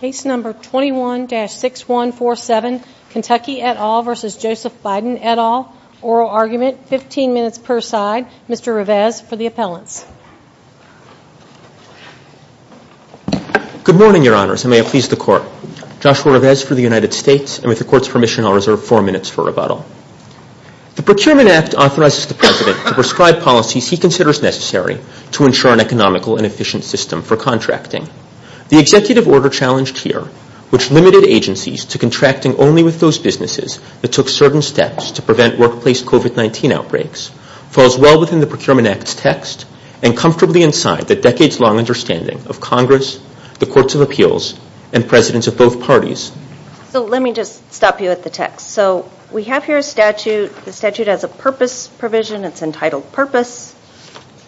Case number 21-6147, Kentucky et al. v. Joseph Biden et al. Oral argument, 15 minutes per side. Mr. Revesz for the appellants. Good morning, Your Honors, and may it please the Court. Joshua Revesz for the United States, and with the Court's permission, I'll reserve four minutes for rebuttal. The Procurement Act authorizes the President to prescribe policies he considers necessary to ensure an economical and efficient system for contracting. The executive order challenged here, which limited agencies to contracting only with those businesses that took certain steps to prevent workplace COVID-19 outbreaks, falls well within the Procurement Act's text and comfortably inside the decades-long understanding of Congress, the Courts of Appeals, and Presidents of both parties. So let me just stop you at the text. So we have here a statute. The statute has a purpose provision. It's entitled Purpose.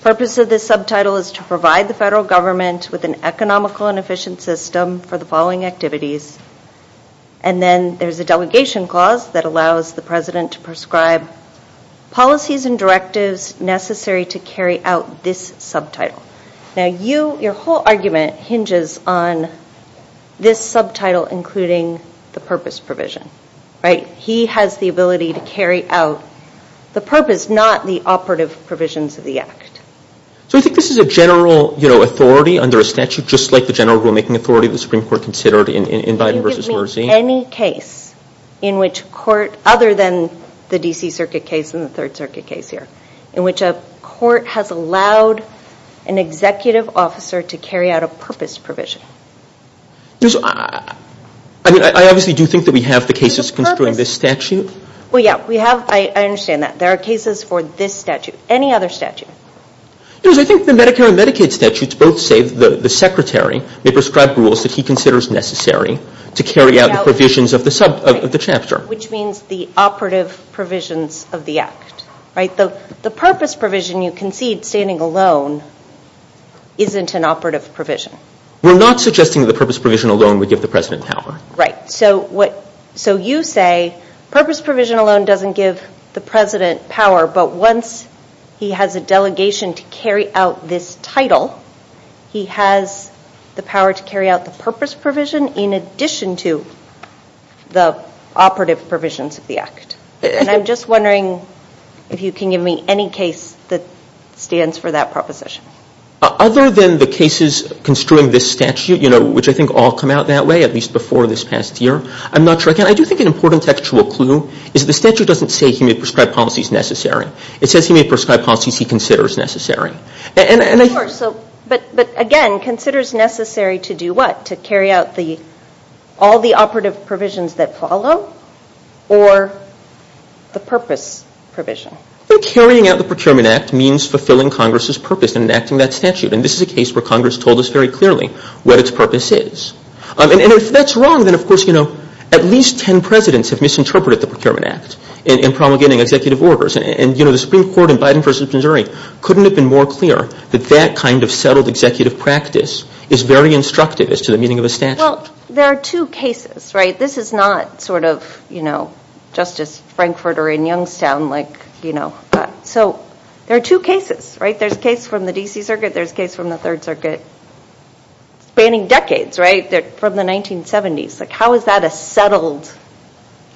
The purpose of this subtitle is to provide the federal government with an economical and efficient system for the following activities. And then there's a delegation clause that allows the President to prescribe policies and directives necessary to carry out this subtitle. Now, your whole argument hinges on this subtitle including the purpose provision, right? He has the ability to carry out the purpose, not the operative provisions of the act. So I think this is a general authority under a statute, just like the general rulemaking authority the Supreme Court considered in Biden v. Mersey. Can you give me any case in which court, other than the D.C. Circuit case and the Third Circuit case here, in which a court has allowed an executive officer to carry out a purpose provision? I mean, I obviously do think that we have the cases considering this statute. Well, yeah, we have. I understand that. There are cases for this statute. Any other statute? I think the Medicare and Medicaid statutes both say that the Secretary may prescribe rules that he considers necessary to carry out the provisions of the chapter. Which means the operative provisions of the act, right? The purpose provision you concede standing alone isn't an operative provision. We're not suggesting the purpose provision alone would give the President power. Right. So you say purpose provision alone doesn't give the President power, but once he has a delegation to carry out this title, he has the power to carry out the purpose provision in addition to the operative provisions of the act. And I'm just wondering if you can give me any case that stands for that proposition. Other than the cases construing this statute, you know, which I think all come out that way, at least before this past year, I'm not sure. Again, I do think an important textual clue is the statute doesn't say he may prescribe policies necessary. It says he may prescribe policies he considers necessary. But again, considers necessary to do what? To carry out all the operative provisions that follow or the purpose provision? Well, carrying out the Procurement Act means fulfilling Congress's purpose in enacting that statute. And this is a case where Congress told us very clearly what its purpose is. And if that's wrong, then, of course, you know, at least 10 Presidents have misinterpreted the Procurement Act in promulgating executive orders. And, you know, the Supreme Court in Biden v. Missouri couldn't have been more clear that that kind of settled executive practice is very instructive as to the meaning of a statute. Well, there are two cases, right? This is not sort of, you know, Justice Frankfurt or in Youngstown, like, you know. So there are two cases, right? There's a case from the D.C. Circuit. There's a case from the Third Circuit. Spanning decades, right, from the 1970s. Like, how is that a settled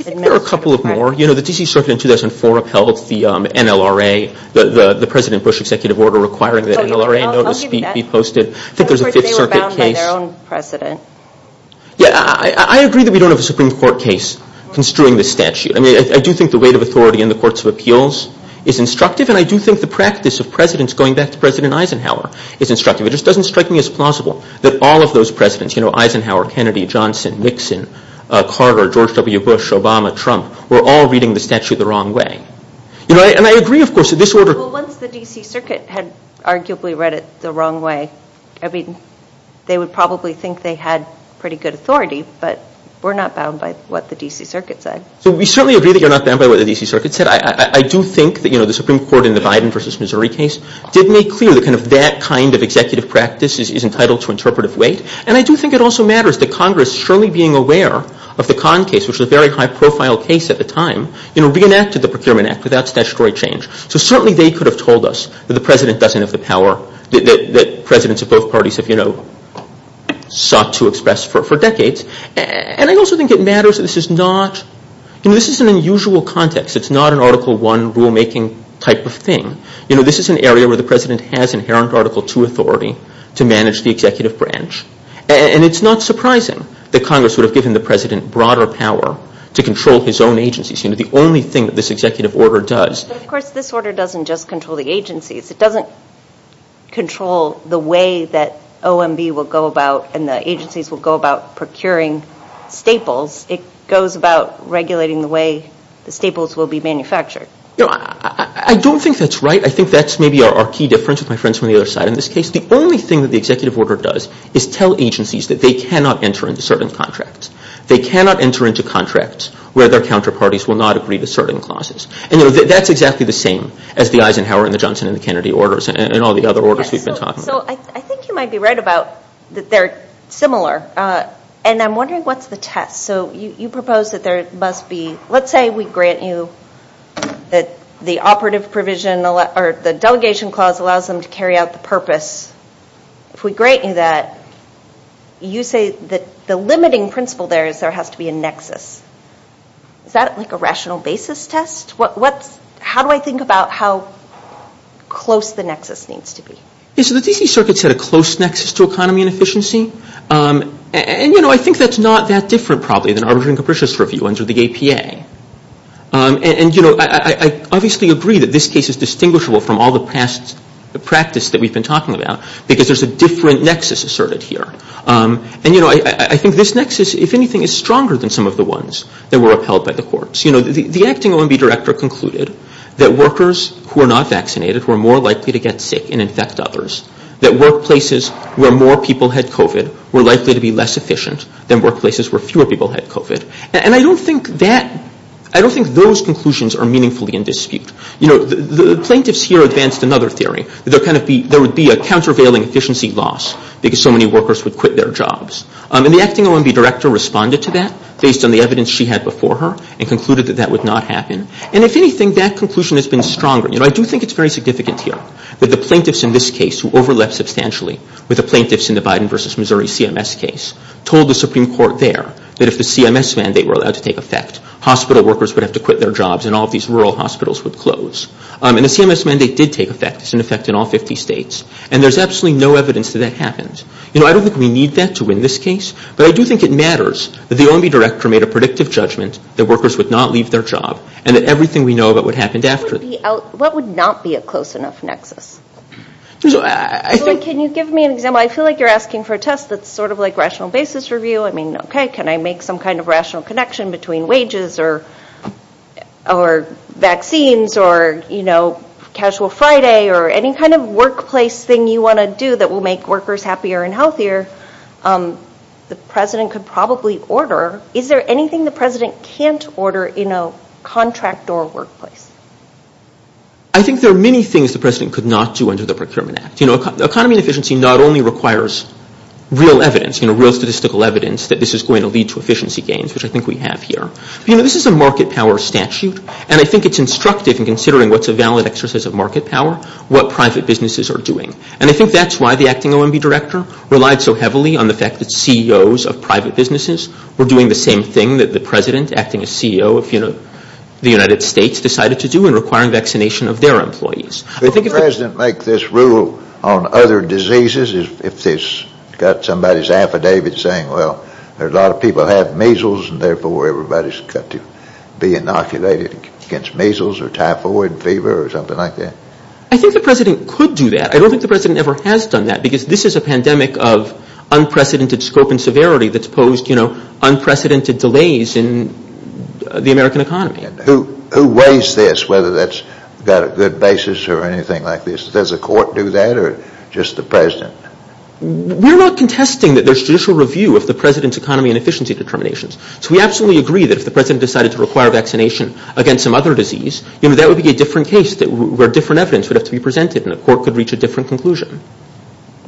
administrative practice? There are a couple of more. You know, the D.C. Circuit in 2004 upheld the NLRA, the President Bush executive order, requiring that NLRA notice be posted. I think there's a Fifth Circuit case. They were bound by their own precedent. Yeah, I agree that we don't have a Supreme Court case construing the statute. I mean, I do think the weight of authority in the courts of appeals is instructive, and I do think the practice of presidents going back to President Eisenhower is instructive. It just doesn't strike me as plausible that all of those presidents, you know, Eisenhower, Kennedy, Johnson, Nixon, Carter, George W. Bush, Obama, Trump, were all reading the statute the wrong way. You know, and I agree, of course, that this order. Well, once the D.C. Circuit had arguably read it the wrong way, I mean, they would probably think they had pretty good authority, but we're not bound by what the D.C. Circuit said. So we certainly agree that you're not bound by what the D.C. Circuit said. I do think that, you know, the Supreme Court in the Biden v. Missouri case did make clear that kind of that kind of executive practice is entitled to interpretive weight, and I do think it also matters that Congress, surely being aware of the Kahn case, which was a very high-profile case at the time, you know, reenacted the Procurement Act without statutory change. So certainly they could have told us that the president doesn't have the power, that presidents of both parties have, you know, sought to express for decades. And I also think it matters that this is not, you know, this is an unusual context. It's not an Article I rulemaking type of thing. You know, this is an area where the president has inherent Article II authority to manage the executive branch, and it's not surprising that Congress would have given the president broader power to control his own agencies, you know, the only thing that this executive order does. But, of course, this order doesn't just control the agencies. It doesn't control the way that OMB will go about and the agencies will go about procuring staples. It goes about regulating the way the staples will be manufactured. You know, I don't think that's right. I think that's maybe our key difference with my friends from the other side in this case. The only thing that the executive order does is tell agencies that they cannot enter into certain contracts. They cannot enter into contracts where their counterparties will not agree to certain clauses. And, you know, that's exactly the same as the Eisenhower and the Johnson and the Kennedy orders and all the other orders we've been talking about. So I think you might be right about that they're similar, and I'm wondering what's the test. So you propose that there must be, let's say we grant you that the operative provision or the delegation clause allows them to carry out the purpose. If we grant you that, you say that the limiting principle there is there has to be a nexus. Is that like a rational basis test? What's, how do I think about how close the nexus needs to be? Yes, so the D.C. Circuit said a close nexus to economy and efficiency. And, you know, I think that's not that different probably than Arbiter and Capricious Review under the APA. And, you know, I obviously agree that this case is distinguishable from all the past practice that we've been talking about because there's a different nexus asserted here. And, you know, I think this nexus, if anything, is stronger than some of the ones that were upheld by the courts. You know, the acting OMB director concluded that workers who are not vaccinated were more likely to get sick and infect others, that workplaces where more people had COVID were likely to be less efficient than workplaces where fewer people had COVID. And I don't think that, I don't think those conclusions are meaningfully in dispute. You know, the plaintiffs here advanced another theory. There kind of be, there would be a countervailing efficiency loss because so many workers would quit their jobs. And the acting OMB director responded to that based on the evidence she had before her and concluded that that would not happen. And, if anything, that conclusion has been stronger. You know, I do think it's very significant here that the plaintiffs in this case who overlapped substantially with the plaintiffs in the Biden versus Missouri CMS case told the Supreme Court there that if the CMS mandate were allowed to take effect, hospital workers would have to quit their jobs and all of these rural hospitals would close. And the CMS mandate did take effect. It's in effect in all 50 states. And there's absolutely no evidence that that happened. You know, I don't think we need that to win this case, but I do think it matters that the OMB director made a predictive judgment that workers would not leave their job and that everything we know about what happened after. What would not be a close enough nexus? Julie, can you give me an example? I feel like you're asking for a test that's sort of like rational basis review. I mean, okay, can I make some kind of rational connection between wages or vaccines or, you know, casual Friday or any kind of workplace thing you want to do that will make workers happier and healthier? The president could probably order. Is there anything the president can't order in a contract or workplace? I think there are many things the president could not do under the Procurement Act. You know, economy and efficiency not only requires real evidence, you know, real statistical evidence that this is going to lead to efficiency gains, which I think we have here. You know, this is a market power statute, and I think it's instructive in considering what's a valid exercise of market power, what private businesses are doing. And I think that's why the acting OMB director relied so heavily on the fact that CEOs of private businesses were doing the same thing that the president, acting as CEO of, you know, the United States, decided to do in requiring vaccination of their employees. Could the president make this rule on other diseases? If they've got somebody's affidavit saying, well, a lot of people have measles and therefore everybody's got to be inoculated against measles or typhoid fever or something like that? I think the president could do that. I don't think the president ever has done that because this is a pandemic of unprecedented scope and severity that's posed, you know, unprecedented delays in the American economy. Who weighs this, whether that's got a good basis or anything like this? Does the court do that or just the president? We're not contesting that there's judicial review of the president's economy and efficiency determinations. So we absolutely agree that if the president decided to require vaccination against some other disease, you know, that would be a different case where different evidence would have to be presented and the court could reach a different conclusion.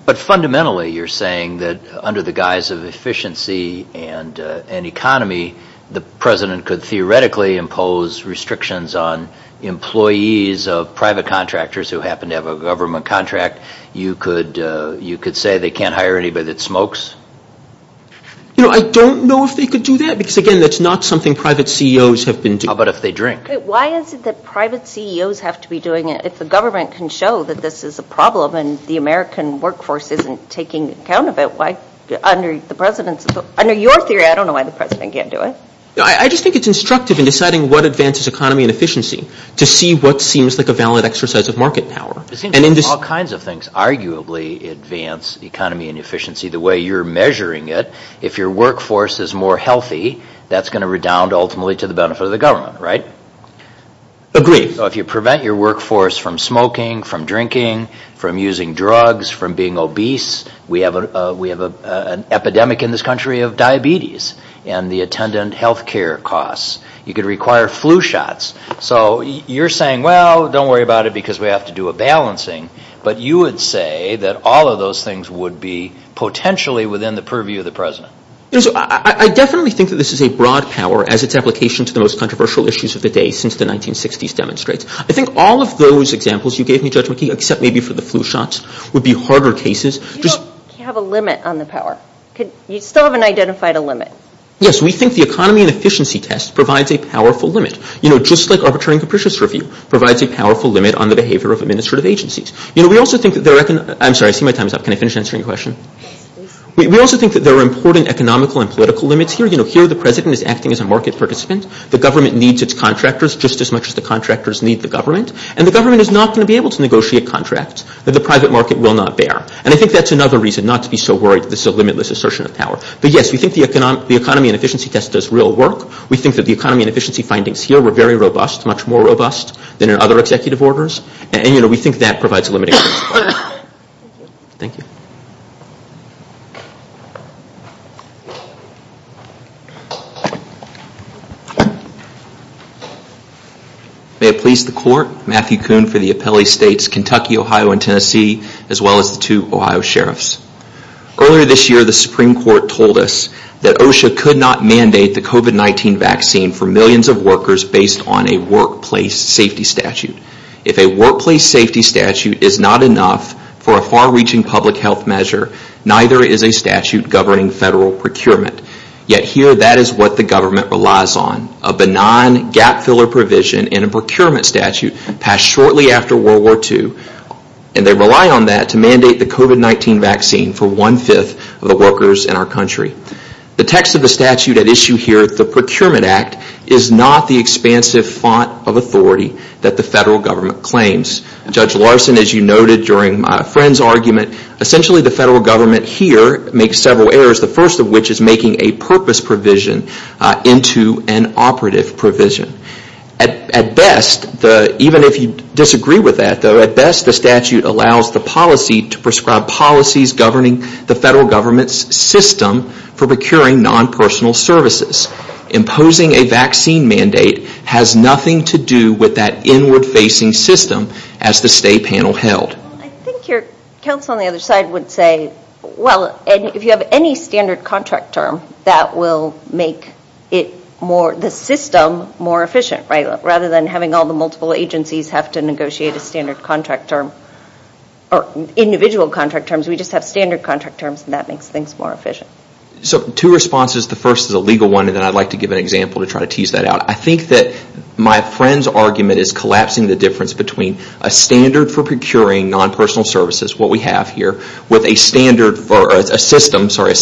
But fundamentally you're saying that under the guise of efficiency and economy, the president could theoretically impose restrictions on employees of private contractors who happen to have a government contract. You could say they can't hire anybody that smokes? You know, I don't know if they could do that because, again, that's not something private CEOs have been doing. How about if they drink? Why is it that private CEOs have to be doing it if the government can show that this is a problem and the American workforce isn't taking account of it? Under your theory, I don't know why the president can't do it. I just think it's instructive in deciding what advances economy and efficiency to see what seems like a valid exercise of market power. It seems like all kinds of things arguably advance economy and efficiency the way you're measuring it. If your workforce is more healthy, that's going to redound ultimately to the benefit of the government, right? Agreed. So if you prevent your workforce from smoking, from drinking, from using drugs, from being obese, we have an epidemic in this country of diabetes and the attendant health care costs. You could require flu shots. So you're saying, well, don't worry about it because we have to do a balancing. But you would say that all of those things would be potentially within the purview of the president. I definitely think that this is a broad power as its application to the most controversial issues of the day since the 1960s demonstrates. I think all of those examples you gave me, Judge McKee, except maybe for the flu shots, would be harder cases. Do you have a limit on the power? You still haven't identified a limit. Yes, we think the economy and efficiency test provides a powerful limit. You know, just like arbitrary and capricious review provides a powerful limit on the behavior of administrative agencies. You know, we also think that there are – I'm sorry, I see my time is up. Can I finish answering your question? We also think that there are important economical and political limits here. You know, here the president is acting as a market participant. The government needs its contractors just as much as the contractors need the government. And the government is not going to be able to negotiate contracts that the private market will not bear. And I think that's another reason not to be so worried this is a limitless assertion of power. But yes, we think the economy and efficiency test does real work. We think that the economy and efficiency findings here were very robust, much more robust than in other executive orders. And, you know, we think that provides a limit. Thank you. May it please the Court, Matthew Kuhn for the Appellee States, Kentucky, Ohio, and Tennessee, as well as the two Ohio sheriffs. Earlier this year, the Supreme Court told us that OSHA could not mandate the COVID-19 vaccine for millions of workers based on a workplace safety statute. If a workplace safety statute is not enough for a far-reaching public health measure, neither is a statute governing federal procurement. Yet here, that is what the government relies on. A benign gap filler provision in a procurement statute passed shortly after World War II, and they rely on that to mandate the COVID-19 vaccine for one-fifth of the workers in our country. The text of the statute at issue here, the Procurement Act, is not the expansive font of authority that the federal government claims. Judge Larson, as you noted during my friend's argument, essentially the federal government here makes several errors, the first of which is making a purpose provision into an operative provision. At best, even if you disagree with that, at best the statute allows the policy to prescribe policies governing the federal government's system for procuring non-personal services. Imposing a vaccine mandate has nothing to do with that inward-facing system, as the state panel held. I think your counsel on the other side would say, well, if you have any standard contract term, that will make the system more efficient. Rather than having all the multiple agencies have to negotiate a standard contract term, or individual contract terms, we just have standard contract terms, and that makes things more efficient. Two responses. The first is a legal one, and then I'd like to give an example to try to tease that out. I think that my friend's argument is collapsing the difference between a standard for procuring non-personal services, what we have here, with a system for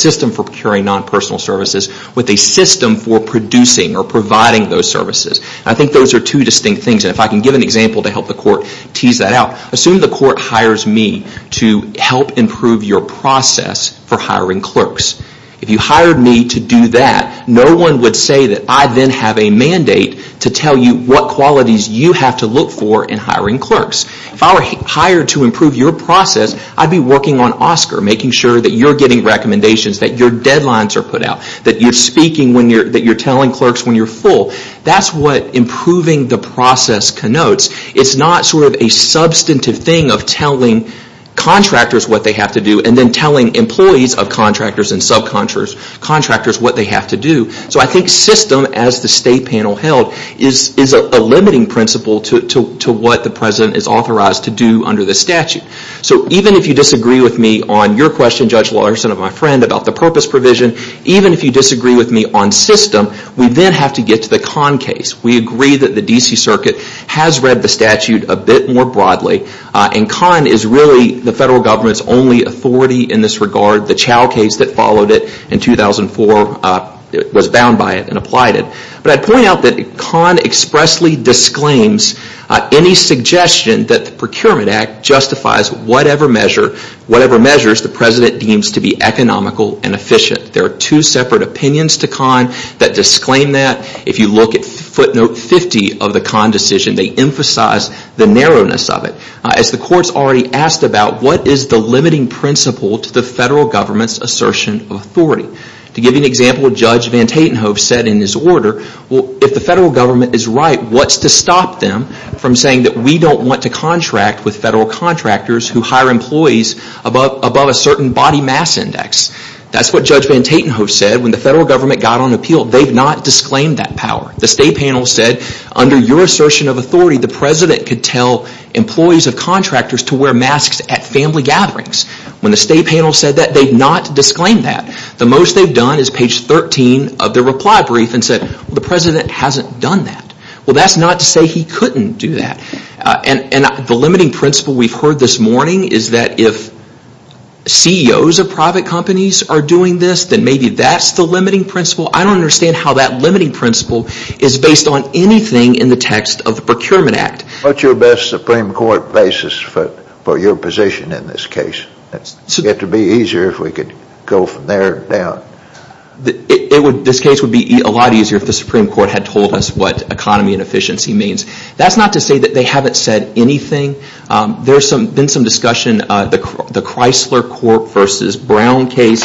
procuring non-personal services, with a system for producing or providing those services. I think those are two distinct things. If I can give an example to help the court tease that out, assume the court hires me to help improve your process for hiring clerks. If you hired me to do that, no one would say that I then have a mandate to tell you what qualities you have to look for in hiring clerks. If I were hired to improve your process, I'd be working on OSCQR, making sure that you're getting recommendations, that your deadlines are put out, that you're speaking, that you're telling clerks when you're full. That's what improving the process connotes. It's not sort of a substantive thing of telling contractors what they have to do, and then telling employees of contractors and subcontractors what they have to do. So I think system, as the state panel held, is a limiting principle to what the president is authorized to do under the statute. So even if you disagree with me on your question, Judge Larson, of my friend about the purpose provision, even if you disagree with me on system, we then have to get to the Kahn case. We agree that the D.C. Circuit has read the statute a bit more broadly, and Kahn is really the federal government's only authority in this regard. The Chao case that followed it in 2004 was bound by it and applied it. But I'd point out that Kahn expressly disclaims any suggestion that the Procurement Act justifies whatever measure, whatever measures the president deems to be economical and efficient. There are two separate opinions to Kahn that disclaim that. If you look at footnote 50 of the Kahn decision, they emphasize the narrowness of it. As the court's already asked about, what is the limiting principle to the federal government's assertion of authority? To give you an example, Judge Van Tatenhove said in his order, if the federal government is right, what's to stop them from saying that we don't want to contract with federal contractors who hire employees above a certain body mass index? That's what Judge Van Tatenhove said when the federal government got on appeal. They've not disclaimed that power. The state panel said, under your assertion of authority, the president could tell employees of contractors to wear masks at family gatherings. When the state panel said that, they've not disclaimed that. The most they've done is page 13 of their reply brief and said, the president hasn't done that. Well, that's not to say he couldn't do that. The limiting principle we've heard this morning is that if CEOs of private companies are doing this, then maybe that's the limiting principle. I don't understand how that limiting principle is based on anything in the text of the Procurement Act. What's your best Supreme Court basis for your position in this case? It would be easier if we could go from there down. This case would be a lot easier if the Supreme Court had told us what economy and efficiency means. That's not to say that they haven't said anything. There's been some discussion. The Chrysler Corp. v. Brown case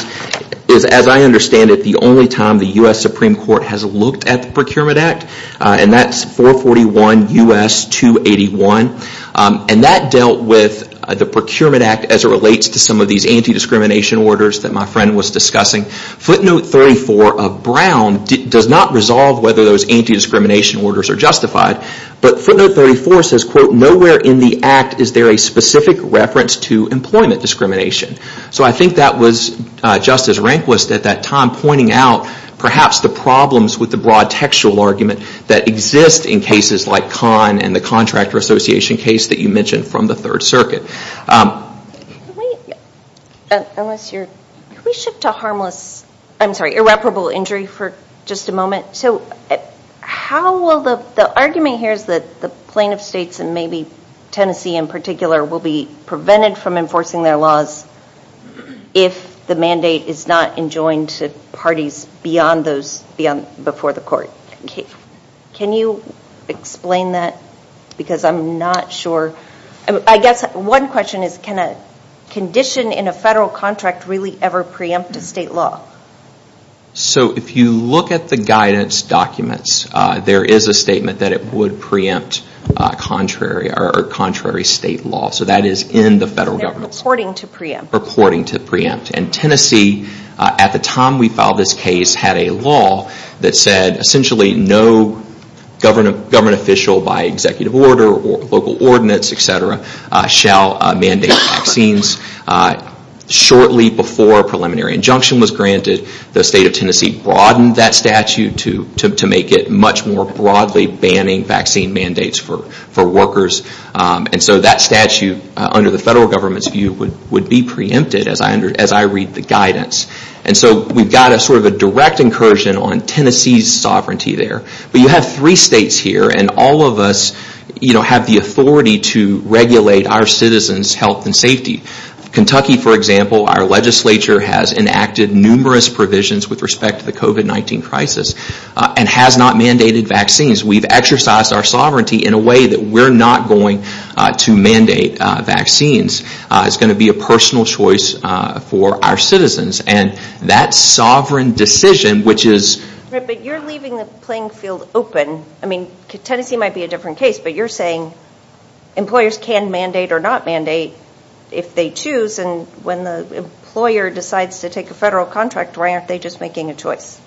is, as I understand it, the only time the U.S. Supreme Court has looked at the Procurement Act. And that's 441 U.S. 281. And that dealt with the Procurement Act as it relates to some of these anti-discrimination orders that my friend was discussing. Footnote 34 of Brown does not resolve whether those anti-discrimination orders are justified. But footnote 34 says, quote, nowhere in the act is there a specific reference to employment discrimination. So I think that was Justice Rehnquist at that time pointing out perhaps the problems with the broad textual argument that exists in cases like Kahn and the Contractor Association case that you mentioned from the Third Circuit. Can we shift to irreparable injury for just a moment? So the argument here is that the plaintiff states and maybe Tennessee in particular will be prevented from enforcing their laws if the mandate is not enjoined to parties beyond those before the court. Can you explain that? Because I'm not sure. I guess one question is, can a condition in a federal contract really ever preempt a state law? So if you look at the guidance documents, there is a statement that it would preempt contrary state law. So that is in the federal government. They're purporting to preempt. Purporting to preempt. And Tennessee, at the time we filed this case, had a law that said essentially no government official by executive order or local ordinance, etc., shall mandate vaccines. Shortly before a preliminary injunction was granted, the state of Tennessee broadened that statute to make it much more broadly banning vaccine mandates for workers. And so that statute, under the federal government's view, would be preempted as I read the guidance. And so we've got sort of a direct incursion on Tennessee's sovereignty there. But you have three states here, and all of us have the authority to regulate our citizens' health and safety. Kentucky, for example, our legislature has enacted numerous provisions with respect to the COVID-19 crisis and has not mandated vaccines. We've exercised our sovereignty in a way that we're not going to mandate vaccines. It's going to be a personal choice for our citizens. And that sovereign decision, which is... Right, but you're leaving the playing field open. I mean, Tennessee might be a different case, but you're saying employers can mandate or not mandate if they choose. And when the employer decides to take a federal contract, why aren't they just making a choice?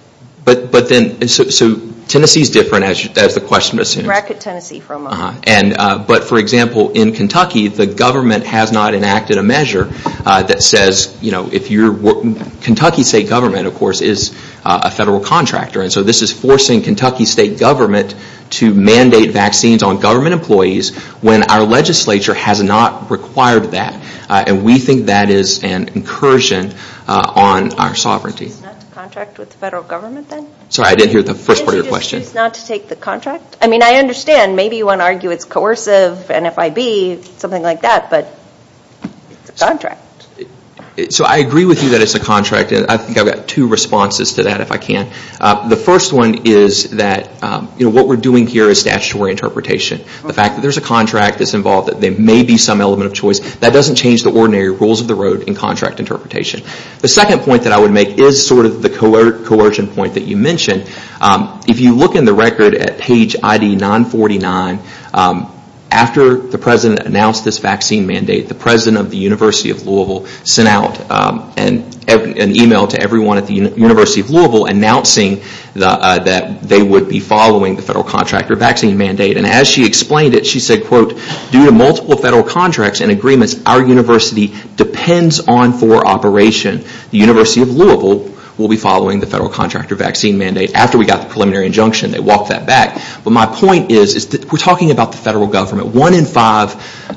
But then... So Tennessee's different, as the question assumes. Bracket Tennessee for a moment. But, for example, in Kentucky, the government has not enacted a measure that says if you're... Kentucky state government, of course, is a federal contractor. And so this is forcing Kentucky state government to mandate vaccines on government employees when our legislature has not required that. And we think that is an incursion on our sovereignty. Can't you just choose not to contract with the federal government, then? Sorry, I didn't hear the first part of your question. Can't you just choose not to take the contract? I mean, I understand. Maybe you want to argue it's coercive, NFIB, something like that. But it's a contract. So I agree with you that it's a contract. I think I've got two responses to that, if I can. The first one is that what we're doing here is statutory interpretation. The fact that there's a contract that's involved, that there may be some element of choice, that doesn't change the ordinary rules of the road in contract interpretation. The second point that I would make is sort of the coercion point that you mentioned. If you look in the record at page ID 949, after the president announced this vaccine mandate, the president of the University of Louisville sent out an email to everyone at the University of Louisville announcing that they would be following the federal contractor vaccine mandate. And as she explained it, she said, quote, due to multiple federal contracts and agreements, our university depends on for operation. The University of Louisville will be following the federal contractor vaccine mandate after we got the preliminary injunction. They walked that back. But my point is, we're talking about the federal government. One in five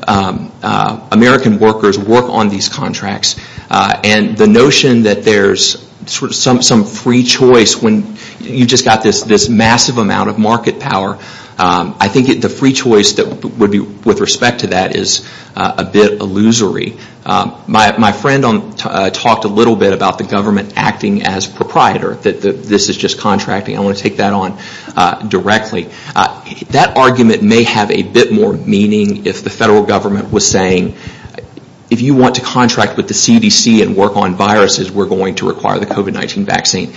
American workers work on these contracts. And the notion that there's some free choice when you've just got this massive amount of market power, I think the free choice with respect to that is a bit illusory. My friend talked a little bit about the government acting as proprietor, that this is just contracting. I want to take that on directly. That argument may have a bit more meaning if the federal government was saying, if you want to contract with the CDC and work on viruses, we're going to require the COVID-19 vaccine.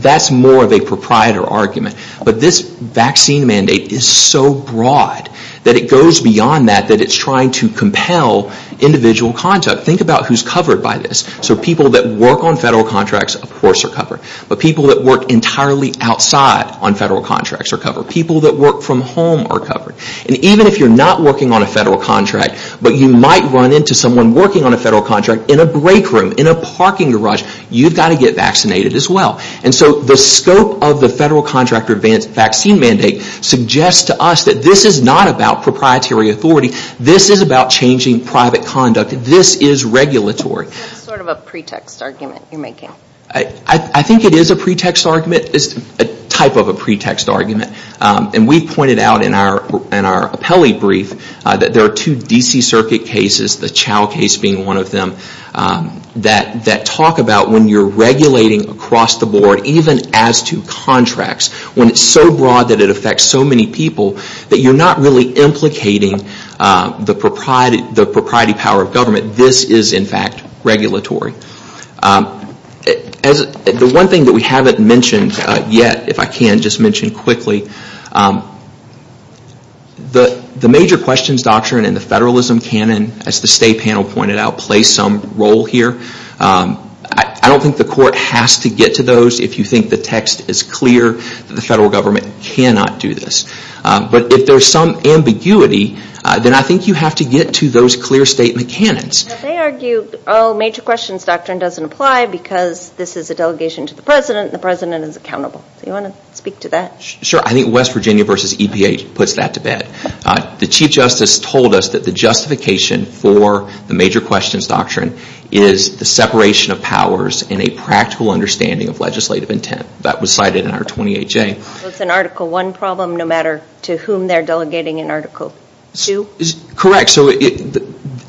That's more of a proprietor argument. But this vaccine mandate is so broad that it goes beyond that, that it's trying to compel individual contact. Think about who's covered by this. So people that work on federal contracts, of course are covered. But people that work entirely outside on federal contracts are covered. People that work from home are covered. And even if you're not working on a federal contract, but you might run into someone working on a federal contract in a break room, in a parking garage, you've got to get vaccinated as well. And so the scope of the federal contract or vaccine mandate suggests to us that this is not about proprietary authority. This is about changing private conduct. This is regulatory. That's sort of a pretext argument you're making. I think it is a pretext argument. It's a type of a pretext argument. And we pointed out in our appellee brief that there are two D.C. Circuit cases, the Chow case being one of them, that talk about when you're regulating across the board, even as to contracts, when it's so broad that it affects so many people, that you're not really implicating the propriety power of government. This is, in fact, regulatory. The one thing that we haven't mentioned yet, if I can just mention quickly, the major questions doctrine and the federalism canon, as the state panel pointed out, play some role here. I don't think the court has to get to those if you think the text is clear that the federal government cannot do this. But if there's some ambiguity, then I think you have to get to those clear state mechanics. They argue major questions doctrine doesn't apply because this is a delegation to the president and the president is accountable. Do you want to speak to that? Sure. I think West Virginia v. EPA puts that to bed. The Chief Justice told us that the justification for the major questions doctrine is the separation of powers and a practical understanding of legislative intent. That was cited in our 28J. So it's an Article I problem no matter to whom they're delegating an Article II? Correct.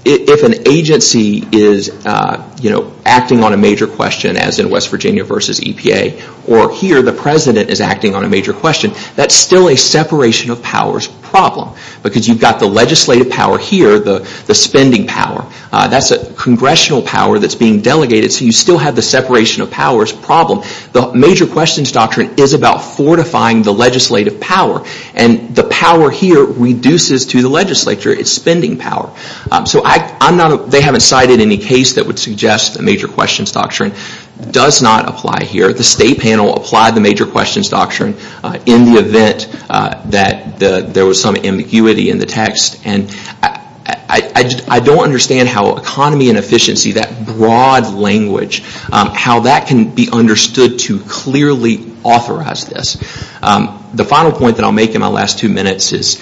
If an agency is acting on a major question as in West Virginia v. EPA, or here the president is acting on a major question, that's still a separation of powers problem because you've got the legislative power here, the spending power. That's a congressional power that's being delegated so you still have the separation of powers problem. The major questions doctrine is about fortifying the legislative power and the power here reduces to the legislature. It's spending power. They haven't cited any case that would suggest the major questions doctrine does not apply here. The state panel applied the major questions doctrine in the event that there was some ambiguity in the text. I don't understand how economy and efficiency, that broad language, how that can be understood to clearly authorize this. The final point that I'll make in my last two minutes is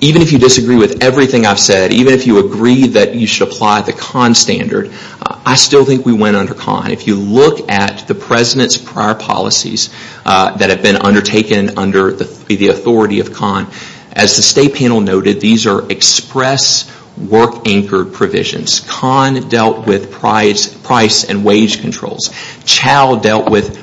even if you disagree with everything I've said, even if you agree that you should apply the CON standard, I still think we went under CON. If you look at the president's prior policies that have been undertaken under the authority of CON, as the state panel noted, these are express work-anchored provisions. CON dealt with price and wage controls. CHAL dealt with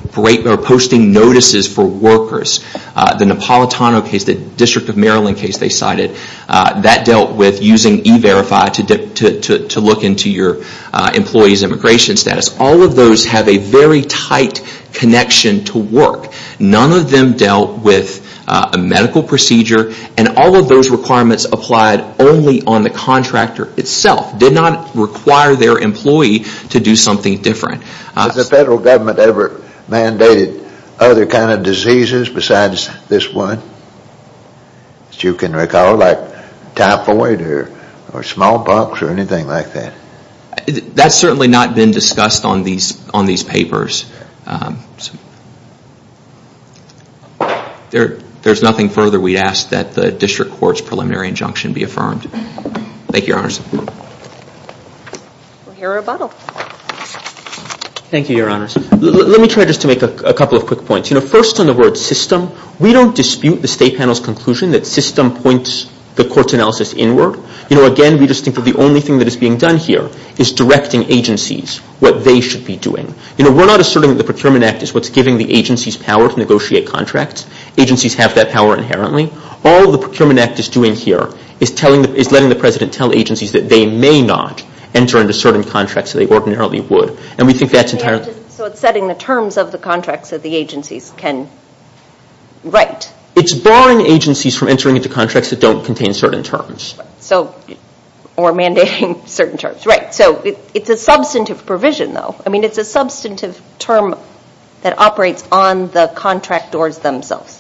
posting notices for workers. The Napolitano case, the District of Maryland case they cited, that dealt with using E-Verify to look into your employee's immigration status. All of those have a very tight connection to work. None of them dealt with a medical procedure and all of those requirements applied only on the contractor itself. Did not require their employee to do something different. Has the federal government ever mandated other kind of diseases besides this one? As you can recall, like typhoid or smallpox or anything like that. That's certainly not been discussed on these papers. There's nothing further we'd ask that the district court's preliminary injunction be affirmed. Thank you, Your Honors. We'll hear rebuttal. Thank you, Your Honors. Let me try just to make a couple of quick points. First on the word system, we don't dispute the state panel's conclusion that system points the court's analysis inward. Again, we just think that the only thing that is being done here is directing agencies what they should be doing. We're not asserting that the Procurement Act is what's giving the agencies power to negotiate contracts. Agencies have that power inherently. All the Procurement Act is doing here is letting the President tell agencies that they may not enter into certain contracts that they ordinarily would. And we think that's entirely... So it's setting the terms of the contracts that the agencies can write. It's barring agencies from entering into contracts that don't contain certain terms. Or mandating certain terms, right. So it's a substantive provision, though. I mean, it's a substantive term that operates on the contractors themselves.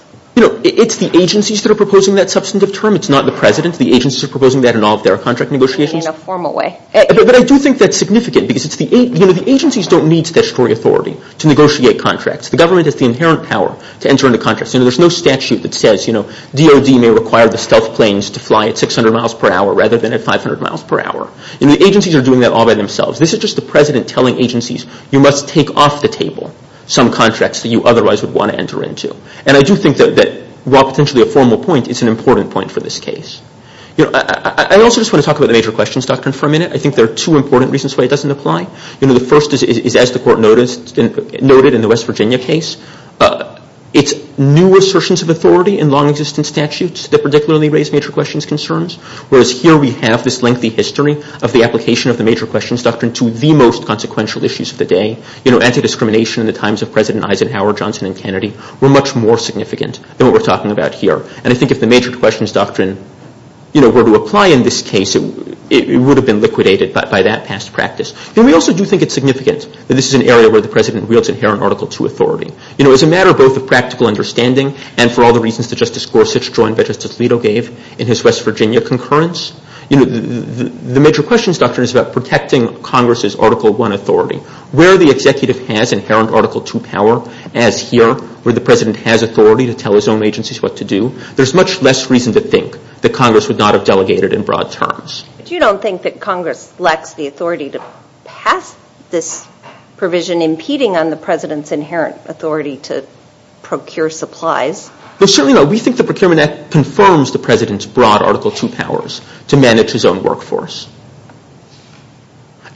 It's the agencies that are proposing that substantive term. It's not the President. The agencies are proposing that in all of their contract negotiations. In a formal way. But I do think that's significant because the agencies don't need statutory authority to negotiate contracts. The government has the inherent power to enter into contracts. There's no statute that says DOD may require the stealth planes to fly at 600 miles per hour rather than at 500 miles per hour. The agencies are doing that all by themselves. This is just the President telling agencies you must take off the table some contracts that you otherwise would want to enter into. And I do think that, while potentially a formal point, it's an important point for this case. I also just want to talk about the major questions doctrine for a minute. I think there are two important reasons why it doesn't apply. The first is, as the Court noted in the West Virginia case, it's new assertions of authority in long-existent statutes that particularly raise major questions concerns. Whereas here we have this lengthy history of the application of the major questions doctrine to the most consequential issues of the day. Anti-discrimination in the times of President Eisenhower, Johnson, and Kennedy were much more significant than what we're talking about here. And I think if the major questions doctrine were to apply in this case, it would have been liquidated by that past practice. And we also do think it's significant that this is an area where the President wields inherent Article II authority. You know, as a matter of both a practical understanding, and for all the reasons that Justice Gorsuch joined what Justice Alito gave in his West Virginia concurrence, the major questions doctrine is about protecting Congress's Article I authority. Where the executive has inherent Article II power, as here, where the President has authority to tell his own agencies what to do, there's much less reason to think that Congress would not have delegated in broad terms. But you don't think that Congress lacks the authority to pass this provision impeding on the President's inherent authority to procure supplies? Well, certainly not. We think the Procurement Act confirms the President's broad Article II powers to manage his own workforce.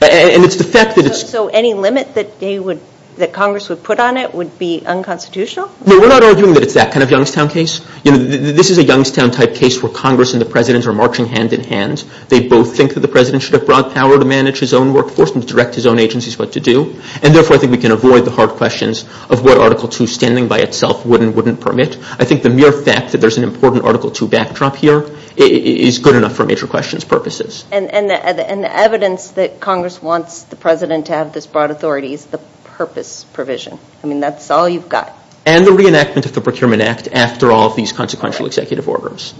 And it's the fact that it's... So any limit that they would, that Congress would put on it would be unconstitutional? No, we're not arguing that it's that kind of Youngstown case. You know, this is a Youngstown-type case where Congress and the President are marching hand-in-hand. They both think that the President should have broad power to manage his own workforce and to direct his own agencies what to do. And therefore, I think we can avoid the hard questions of what Article II, standing by itself, would and wouldn't permit. I think the mere fact that there's an important Article II backdrop here is good enough for major questions purposes. And the evidence that Congress wants the President to have this broad authority is the purpose provision. I mean, that's all you've got. And the reenactment of the Procurement Act after all of these consequential executive orders.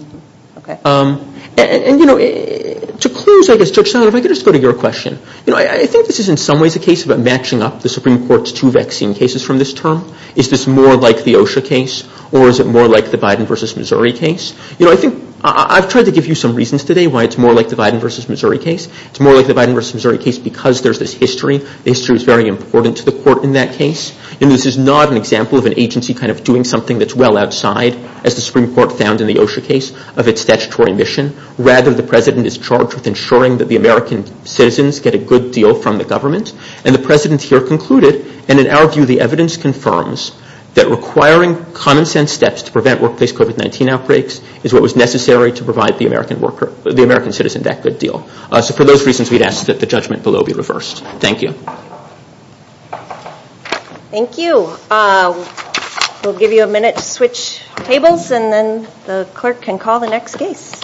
And, you know, to close, I guess, Judge Sullivan, if I could just go to your question. You know, I think this is in some ways a case about matching up the Supreme Court's two vaccine cases from this term. Is this more like the OSHA case? Or is it more like the Biden v. Missouri case? You know, I think I've tried to give you some reasons today why it's more like the Biden v. Missouri case. It's more like the Biden v. Missouri case because there's this history. The history is very important to the Court in that case. You know, this is not an example of an agency kind of doing something that's well outside as the Supreme Court found in the OSHA case of its statutory mission. Rather, the President is charged with ensuring that the American citizens get a good deal from the government. And the President here concluded, and in our view, the evidence confirms that requiring common-sense steps to prevent workplace COVID-19 outbreaks is what was necessary to provide the American worker the American citizen that good deal. So for those reasons, we'd ask that the judgment below be reversed. Thank you. Thank you. We'll give you a minute to switch tables and then the clerk can call the next case.